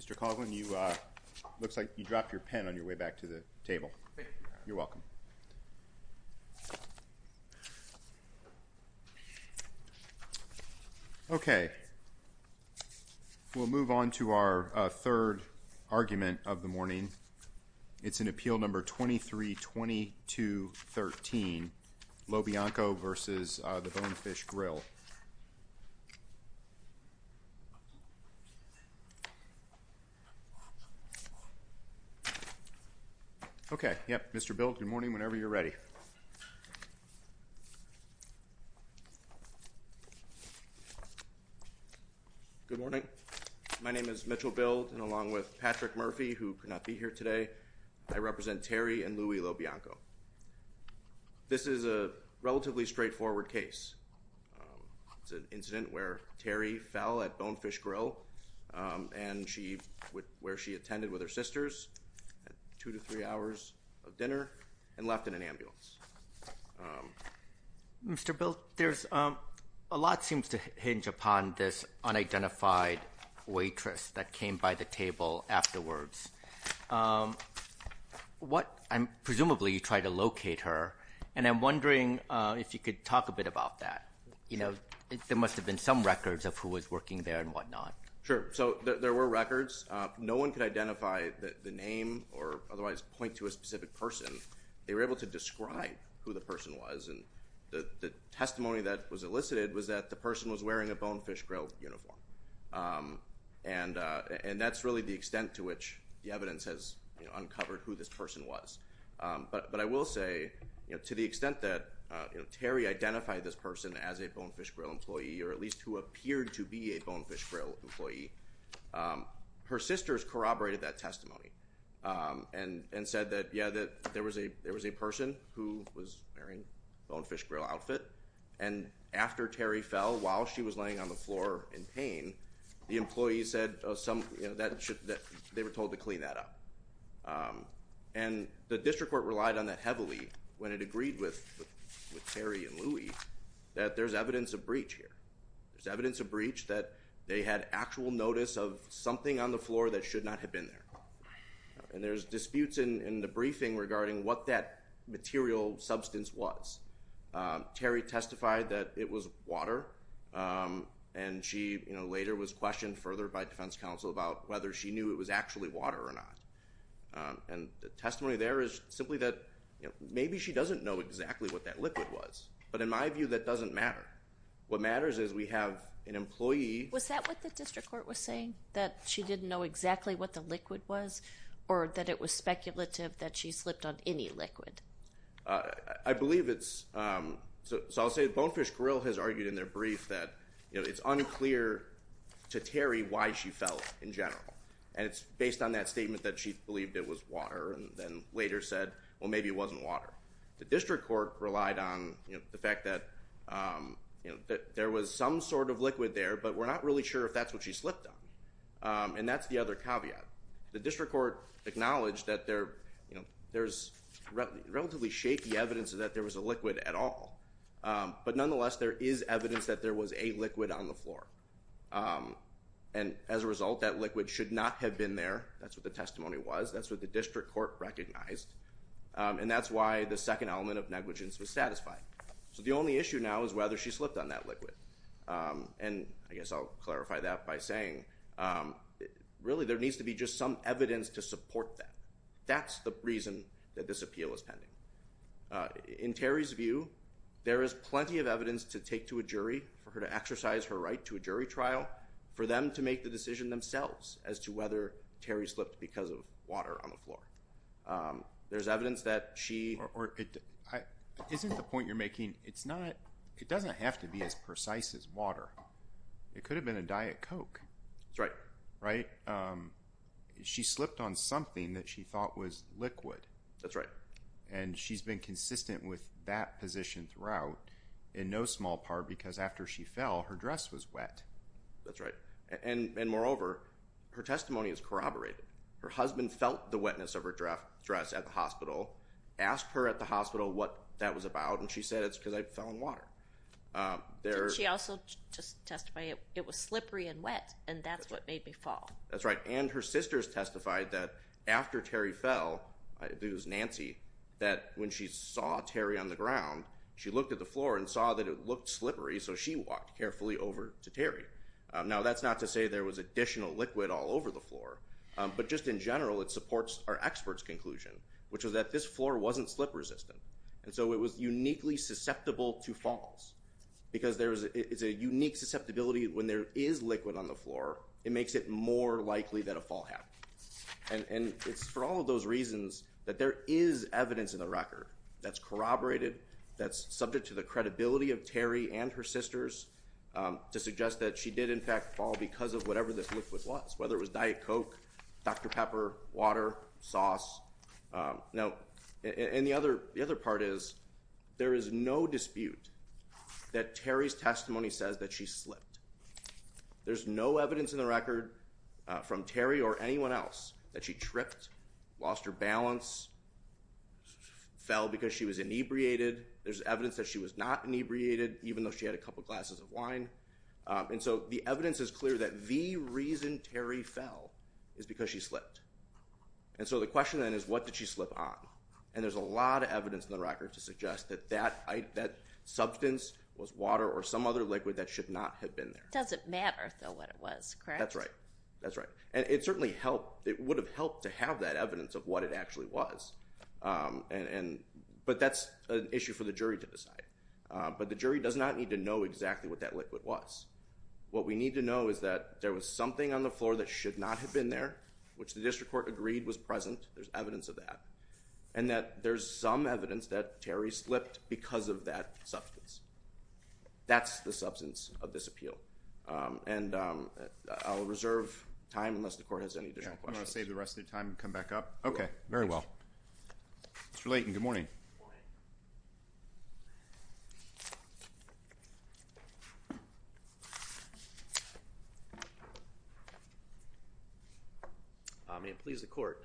Mr. Coughlin, it looks like you dropped your pen on your way back to the table. Thank you. You're welcome. Okay, we'll move on to our third argument of the morning. It's in Appeal Number 232213, LoBianco v. Bonefish Grill. Okay, yep, Mr. Bild, good morning, whenever you're ready. Good morning. My name is Mitchell Bild, and along with Patrick Murphy, who could not be here today, I represent Terry and Louie LoBianco. This is a relatively straightforward case. It's an incident where Terry fell at Bonefish Grill, where she attended with her sisters, had two to three hours of dinner, and left in an ambulance. Mr. Bild, a lot seems to hinge upon this unidentified waitress that came by the table afterwards. Presumably, you tried to locate her, and I'm wondering if you could talk a bit about that. There must have been some records of who was working there and whatnot. Sure, so there were records. No one could identify the name or otherwise point to a specific person. They were able to describe who the person was, and the testimony that was elicited was that the person was wearing a Bonefish Grill uniform. And that's really the extent to which the evidence has uncovered who this person was. But I will say, to the extent that Terry identified this person as a Bonefish Grill employee, or at least who appeared to be a Bonefish Grill employee, her sisters corroborated that testimony and said that, yeah, there was a person who was wearing a Bonefish Grill outfit, and after Terry fell, while she was laying on the floor in pain, the employees said that they were told to clean that up. And the district court relied on that heavily when it agreed with Terry and Louie that there's evidence of breach here. There's evidence of breach that they had actual notice of something on the floor that should not have been there. And there's disputes in the briefing regarding what that material substance was. Terry testified that it was water, and she later was questioned further by defense counsel about whether she knew it was actually water or not. And the testimony there is simply that maybe she doesn't know exactly what that liquid was. But in my view, that doesn't matter. What matters is we have an employee. Was that what the district court was saying, that she didn't know exactly what the liquid was, or that it was speculative that she slipped on any liquid? I believe it's – so I'll say Bonefish Grill has argued in their brief that it's unclear to Terry why she fell in general. And it's based on that statement that she believed it was water and then later said, well, maybe it wasn't water. The district court relied on the fact that there was some sort of liquid there, but we're not really sure if that's what she slipped on. And that's the other caveat. The district court acknowledged that there's relatively shaky evidence that there was a liquid at all. But nonetheless, there is evidence that there was a liquid on the floor. And as a result, that liquid should not have been there. That's what the testimony was. That's what the district court recognized. And that's why the second element of negligence was satisfied. So the only issue now is whether she slipped on that liquid. And I guess I'll clarify that by saying, really, there needs to be just some evidence to support that. That's the reason that this appeal is pending. In Terry's view, there is plenty of evidence to take to a jury, for her to exercise her right to a jury trial, for them to make the decision themselves as to whether Terry slipped because of water on the floor. There's evidence that she – Isn't the point you're making, it's not – it doesn't have to be as precise as water. It could have been a Diet Coke. That's right. Right? She slipped on something that she thought was liquid. That's right. And she's been consistent with that position throughout, in no small part because after she fell, her dress was wet. That's right. And moreover, her testimony is corroborated. Her husband felt the wetness of her dress at the hospital, asked her at the hospital what that was about, and she said, it's because I fell in water. She also just testified it was slippery and wet, and that's what made me fall. That's right. And her sisters testified that after Terry fell, it was Nancy, that when she saw Terry on the ground, she looked at the floor and saw that it looked slippery, so she walked carefully over to Terry. Now, that's not to say there was additional liquid all over the floor, but just in general it supports our expert's conclusion, which is that this floor wasn't slip resistant, and so it was uniquely susceptible to falls because there is a unique susceptibility when there is liquid on the floor. It makes it more likely that a fall happened. And it's for all of those reasons that there is evidence in the record that's corroborated, that's subject to the credibility of Terry and her sisters to suggest that she did, in fact, fall because of whatever this liquid was, whether it was Diet Coke, Dr. Pepper, water, sauce. Now, and the other part is there is no dispute that Terry's testimony says that she slipped. There's no evidence in the record from Terry or anyone else that she tripped, lost her balance, fell because she was inebriated. There's evidence that she was not inebriated, even though she had a couple glasses of wine. And so the evidence is clear that the reason Terry fell is because she slipped. And so the question then is what did she slip on? And there's a lot of evidence in the record to suggest that that substance was water or some other liquid that should not have been there. It doesn't matter, though, what it was, correct? That's right. That's right. And it certainly helped. It would have helped to have that evidence of what it actually was, but that's an issue for the jury to decide. But the jury does not need to know exactly what that liquid was. What we need to know is that there was something on the floor that should not have been there, which the district court agreed was present. There's evidence of that. And that there's some evidence that Terry slipped because of that substance. That's the substance of this appeal. And I'll reserve time unless the court has any additional questions. You want to save the rest of your time and come back up? Okay, very well. Mr. Layton, good morning. Good morning. May it please the court.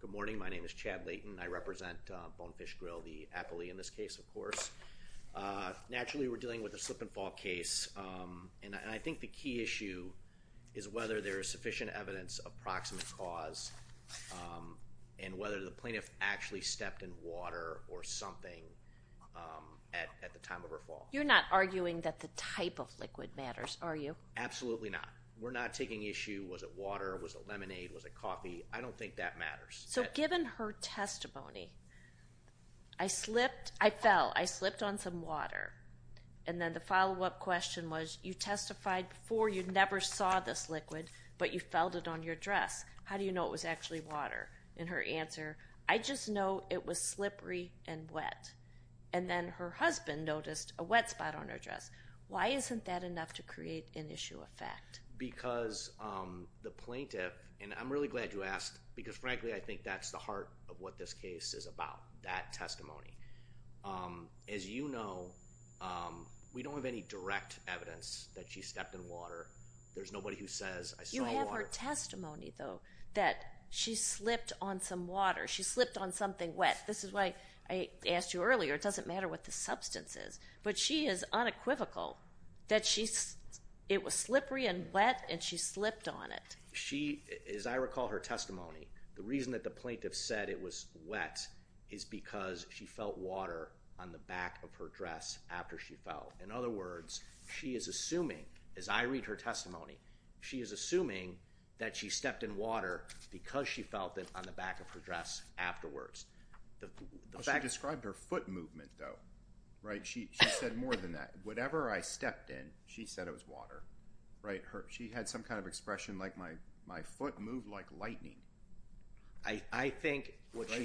Good morning. My name is Chad Layton. I represent Bonefish Grill, the appellee in this case, of course. Naturally, we're dealing with a slip and fall case, and I think the key issue is whether there is sufficient evidence of proximate cause and whether the plaintiff actually stepped in water or something at the time of her fall. You're not arguing that the type of liquid matters, are you? Absolutely not. We're not taking issue. Was it water? Was it lemonade? Was it coffee? I don't think that matters. So given her testimony, I slipped, I fell, I slipped on some water, and then the follow-up question was, you testified before you never saw this liquid, but you felt it on your dress. How do you know it was actually water? And her answer, I just know it was slippery and wet. And then her husband noticed a wet spot on her dress. Why isn't that enough to create an issue of fact? Because the plaintiff, and I'm really glad you asked because, frankly, I think that's the heart of what this case is about, that testimony. As you know, we don't have any direct evidence that she stepped in water. There's nobody who says, I saw water. I have her testimony, though, that she slipped on some water. She slipped on something wet. This is why I asked you earlier. It doesn't matter what the substance is. But she is unequivocal that it was slippery and wet, and she slipped on it. She, as I recall her testimony, the reason that the plaintiff said it was wet is because she felt water on the back of her dress after she fell. In other words, she is assuming, as I read her testimony, she is assuming that she stepped in water because she felt it on the back of her dress afterwards. She described her foot movement, though. She said more than that. Whatever I stepped in, she said it was water. She had some kind of expression like, my foot moved like lightning.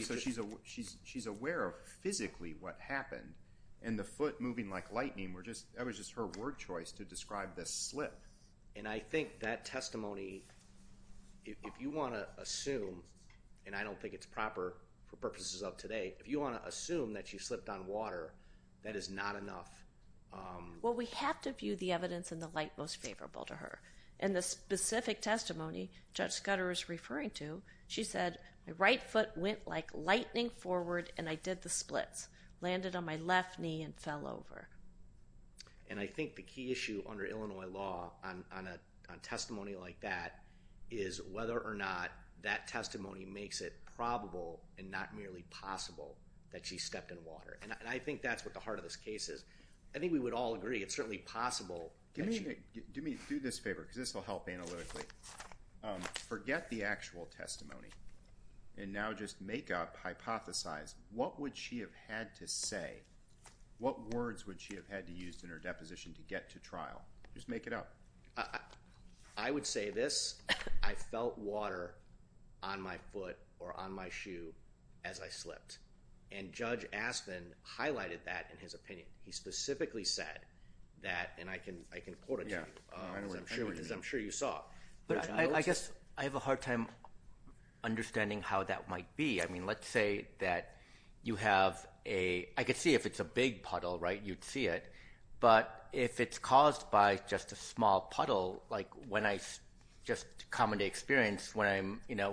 So she's aware of physically what happened, and the foot moving like lightning, that was just her word choice to describe this slip. And I think that testimony, if you want to assume, and I don't think it's proper for purposes of today, if you want to assume that she slipped on water, that is not enough. Well, we have to view the evidence in the light most favorable to her. In the specific testimony Judge Scudder is referring to, she said, my right foot went like lightning forward, and I did the splits. Landed on my left knee and fell over. And I think the key issue under Illinois law on testimony like that is whether or not that testimony makes it probable and not merely possible that she stepped in water. And I think that's what the heart of this case is. I think we would all agree it's certainly possible. Do me a favor, because this will help analytically. Forget the actual testimony, and now just make up, hypothesize, what would she have had to say? What words would she have had to use in her deposition to get to trial? Just make it up. I would say this. I felt water on my foot or on my shoe as I slipped. And Judge Aspen highlighted that in his opinion. He specifically said that, and I can quote it to you, because I'm sure you saw. But I guess I have a hard time understanding how that might be. I mean, let's say that you have a ‑‑ I could see if it's a big puddle, right, you'd see it. But if it's caused by just a small puddle, like when I just commonly experience when I'm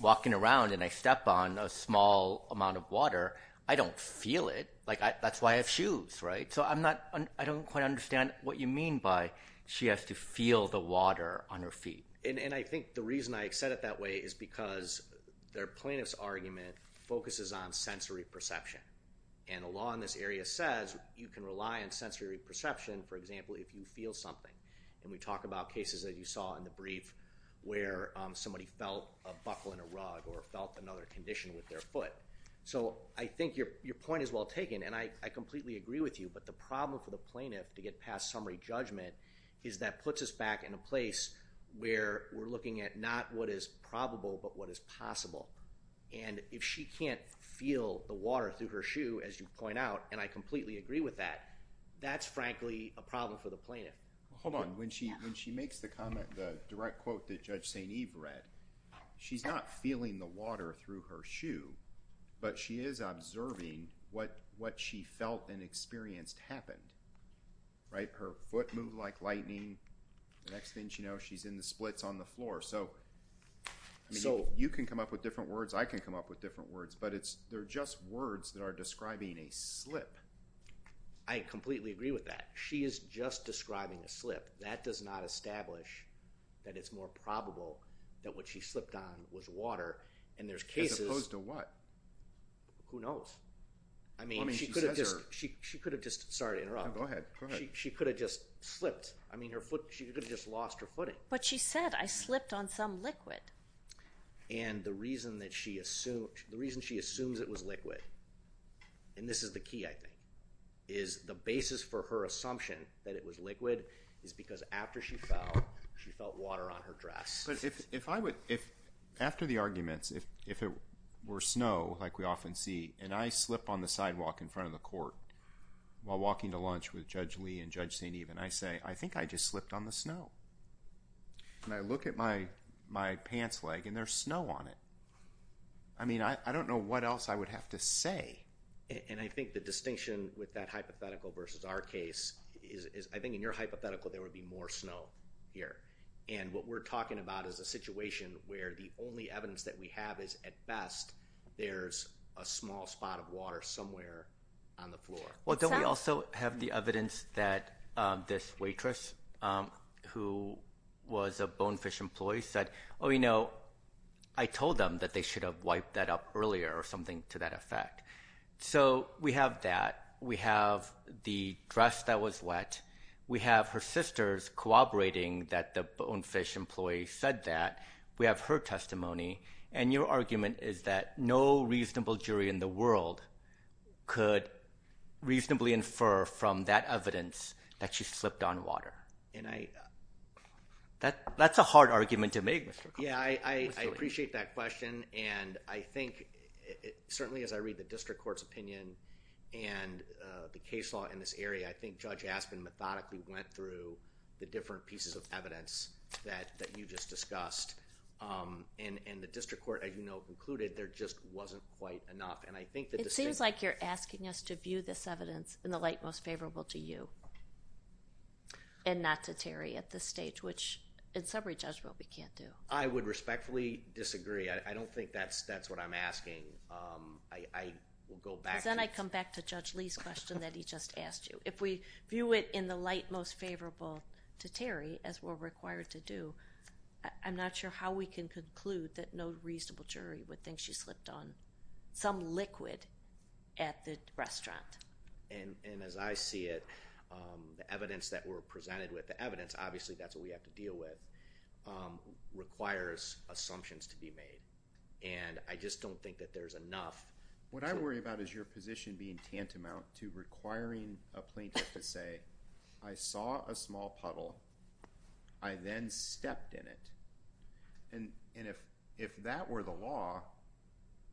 walking around and I step on a small amount of water, I don't feel it. That's why I have shoes, right? So I don't quite understand what you mean by she has to feel the water on her feet. And I think the reason I said it that way is because their plaintiff's argument focuses on sensory perception. And the law in this area says you can rely on sensory perception, for example, if you feel something. And we talk about cases that you saw in the brief where somebody felt a buckle in a rug or felt another condition with their foot. So I think your point is well taken, and I completely agree with you. But the problem for the plaintiff to get past summary judgment is that puts us back in a place where we're looking at not what is probable but what is possible. And if she can't feel the water through her shoe, as you point out, and I completely agree with that, that's frankly a problem for the plaintiff. Hold on. When she makes the comment, the direct quote that Judge St. Eve read, she's not feeling the water through her shoe, but she is observing what she felt and experienced happened, right? Her foot moved like lightning. The next thing she knows, she's in the splits on the floor. So you can come up with different words. I can come up with different words. But they're just words that are describing a slip. I completely agree with that. She is just describing a slip. That does not establish that it's more probable that what she slipped on was water, and there's cases. As opposed to what? Who knows? I mean, she could have just, sorry to interrupt. Go ahead. She could have just slipped. I mean, she could have just lost her footing. But she said, I slipped on some liquid. And the reason she assumes it was liquid, and this is the key I think, is the basis for her assumption that it was liquid is because after she fell, she felt water on her dress. But if I would, after the arguments, if it were snow like we often see, and I slip on the sidewalk in front of the court while walking to lunch with Judge Lee and Judge St. Eve, and I say, I think I just slipped on the snow. And I look at my pants leg, and there's snow on it. I mean, I don't know what else I would have to say. And I think the distinction with that hypothetical versus our case is I think in your hypothetical there would be more snow here. And what we're talking about is a situation where the only evidence that we have is, at best, there's a small spot of water somewhere on the floor. Well, don't we also have the evidence that this waitress who was a Bonefish employee said, oh, you know, I told them that they should have wiped that up earlier or something to that effect. So we have that. We have the dress that was wet. We have her sisters cooperating that the Bonefish employee said that. We have her testimony. And your argument is that no reasonable jury in the world could reasonably infer from that evidence that she slipped on water. And that's a hard argument to make. Yeah, I appreciate that question. And I think certainly as I read the district court's opinion and the case law in this area, I think Judge Aspen methodically went through the different pieces of evidence that you just discussed. And the district court, as you know, concluded there just wasn't quite enough. It seems like you're asking us to view this evidence in the light most favorable to you and not to Terry at this stage, which in summary, Judge, what we can't do. I would respectfully disagree. I don't think that's what I'm asking. Because then I come back to Judge Lee's question that he just asked you. If we view it in the light most favorable to Terry, as we're required to do, I'm not sure how we can conclude that no reasonable jury would think she slipped on some liquid at the restaurant. And as I see it, the evidence that we're presented with, the evidence, obviously that's what we have to deal with, requires assumptions to be made. And I just don't think that there's enough. What I worry about is your position being tantamount to requiring a plaintiff to say, I saw a small puddle, I then stepped in it. And if that were the law,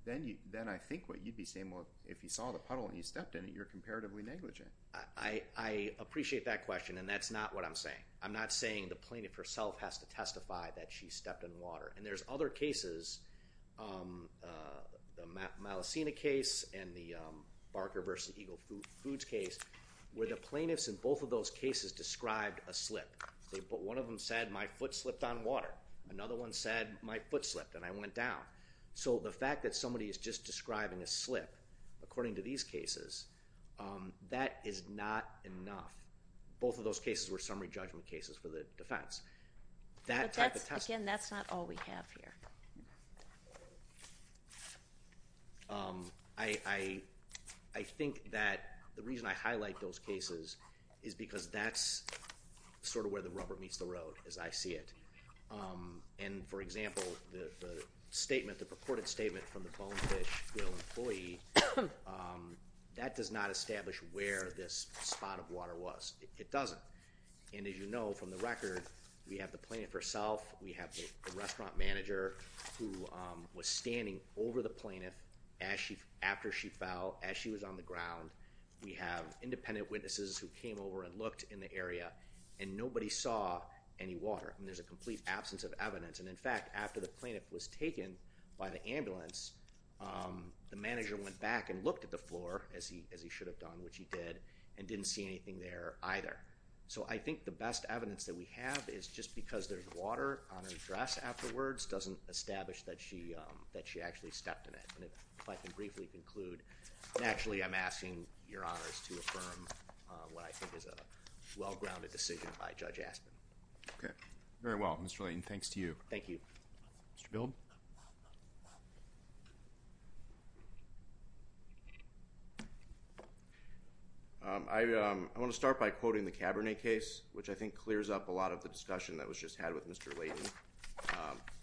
then I think what you'd be saying, well, if you saw the puddle and you stepped in it, you're comparatively negligent. I appreciate that question, and that's not what I'm saying. I'm not saying the plaintiff herself has to testify that she stepped in water. And there's other cases, the Malacena case and the Barker v. Eagle Foods case, where the plaintiffs in both of those cases described a slip. One of them said, my foot slipped on water. Another one said, my foot slipped and I went down. So the fact that somebody is just describing a slip, according to these cases, that is not enough. Both of those cases were summary judgment cases for the defense. Again, that's not all we have here. I think that the reason I highlight those cases is because that's sort of where the rubber meets the road, as I see it. And, for example, the statement, the purported statement from the Bonefish Grill employee, that does not establish where this spot of water was. It doesn't. And, as you know from the record, we have the plaintiff herself, we have the restaurant manager, who was standing over the plaintiff after she fell, as she was on the ground. We have independent witnesses who came over and looked in the area, and nobody saw any water. I mean, there's a complete absence of evidence. And, in fact, after the plaintiff was taken by the ambulance, the manager went back and looked at the floor, as he should have done, which he did, and didn't see anything there either. So I think the best evidence that we have is just because there's water on her dress afterwards doesn't establish that she actually stepped in it. And if I can briefly conclude. And, actually, I'm asking your honors to affirm what I think is a well-grounded decision by Judge Aspin. Okay. Very well, Mr. Layton. Thanks to you. Thank you. Mr. Bild? I want to start by quoting the Cabernet case, which I think clears up a lot of the discussion that was just had with Mr. Layton.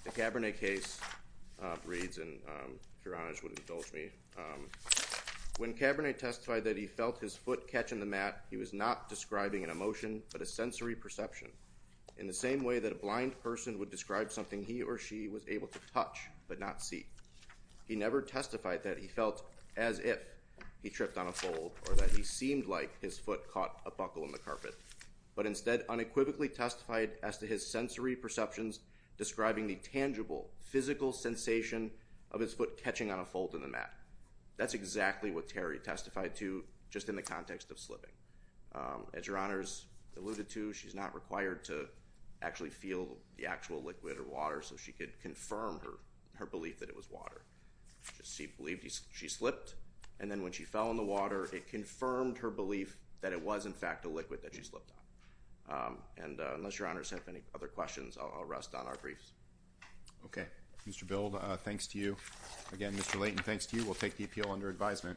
The Cabernet case reads, and if your honors would indulge me, when Cabernet testified that he felt his foot catch on the mat, he was not describing an emotion but a sensory perception, in the same way that a blind person would describe something he or she was able to touch but not see. He never testified that he felt as if he tripped on a fold or that he seemed like his foot caught a buckle in the carpet, but instead unequivocally testified as to his sensory perceptions describing the tangible, physical sensation of his foot catching on a fold in the mat. That's exactly what Terry testified to, just in the context of slipping. As your honors alluded to, she's not required to actually feel the actual liquid or water, so she could confirm her belief that it was water. She believed she slipped, and then when she fell in the water, it confirmed her belief that it was in fact a liquid that she slipped on. Unless your honors have any other questions, I'll rest on our briefs. Okay. Mr. Bild, thanks to you. Again, Mr. Layton, thanks to you. We'll take the appeal under advisement.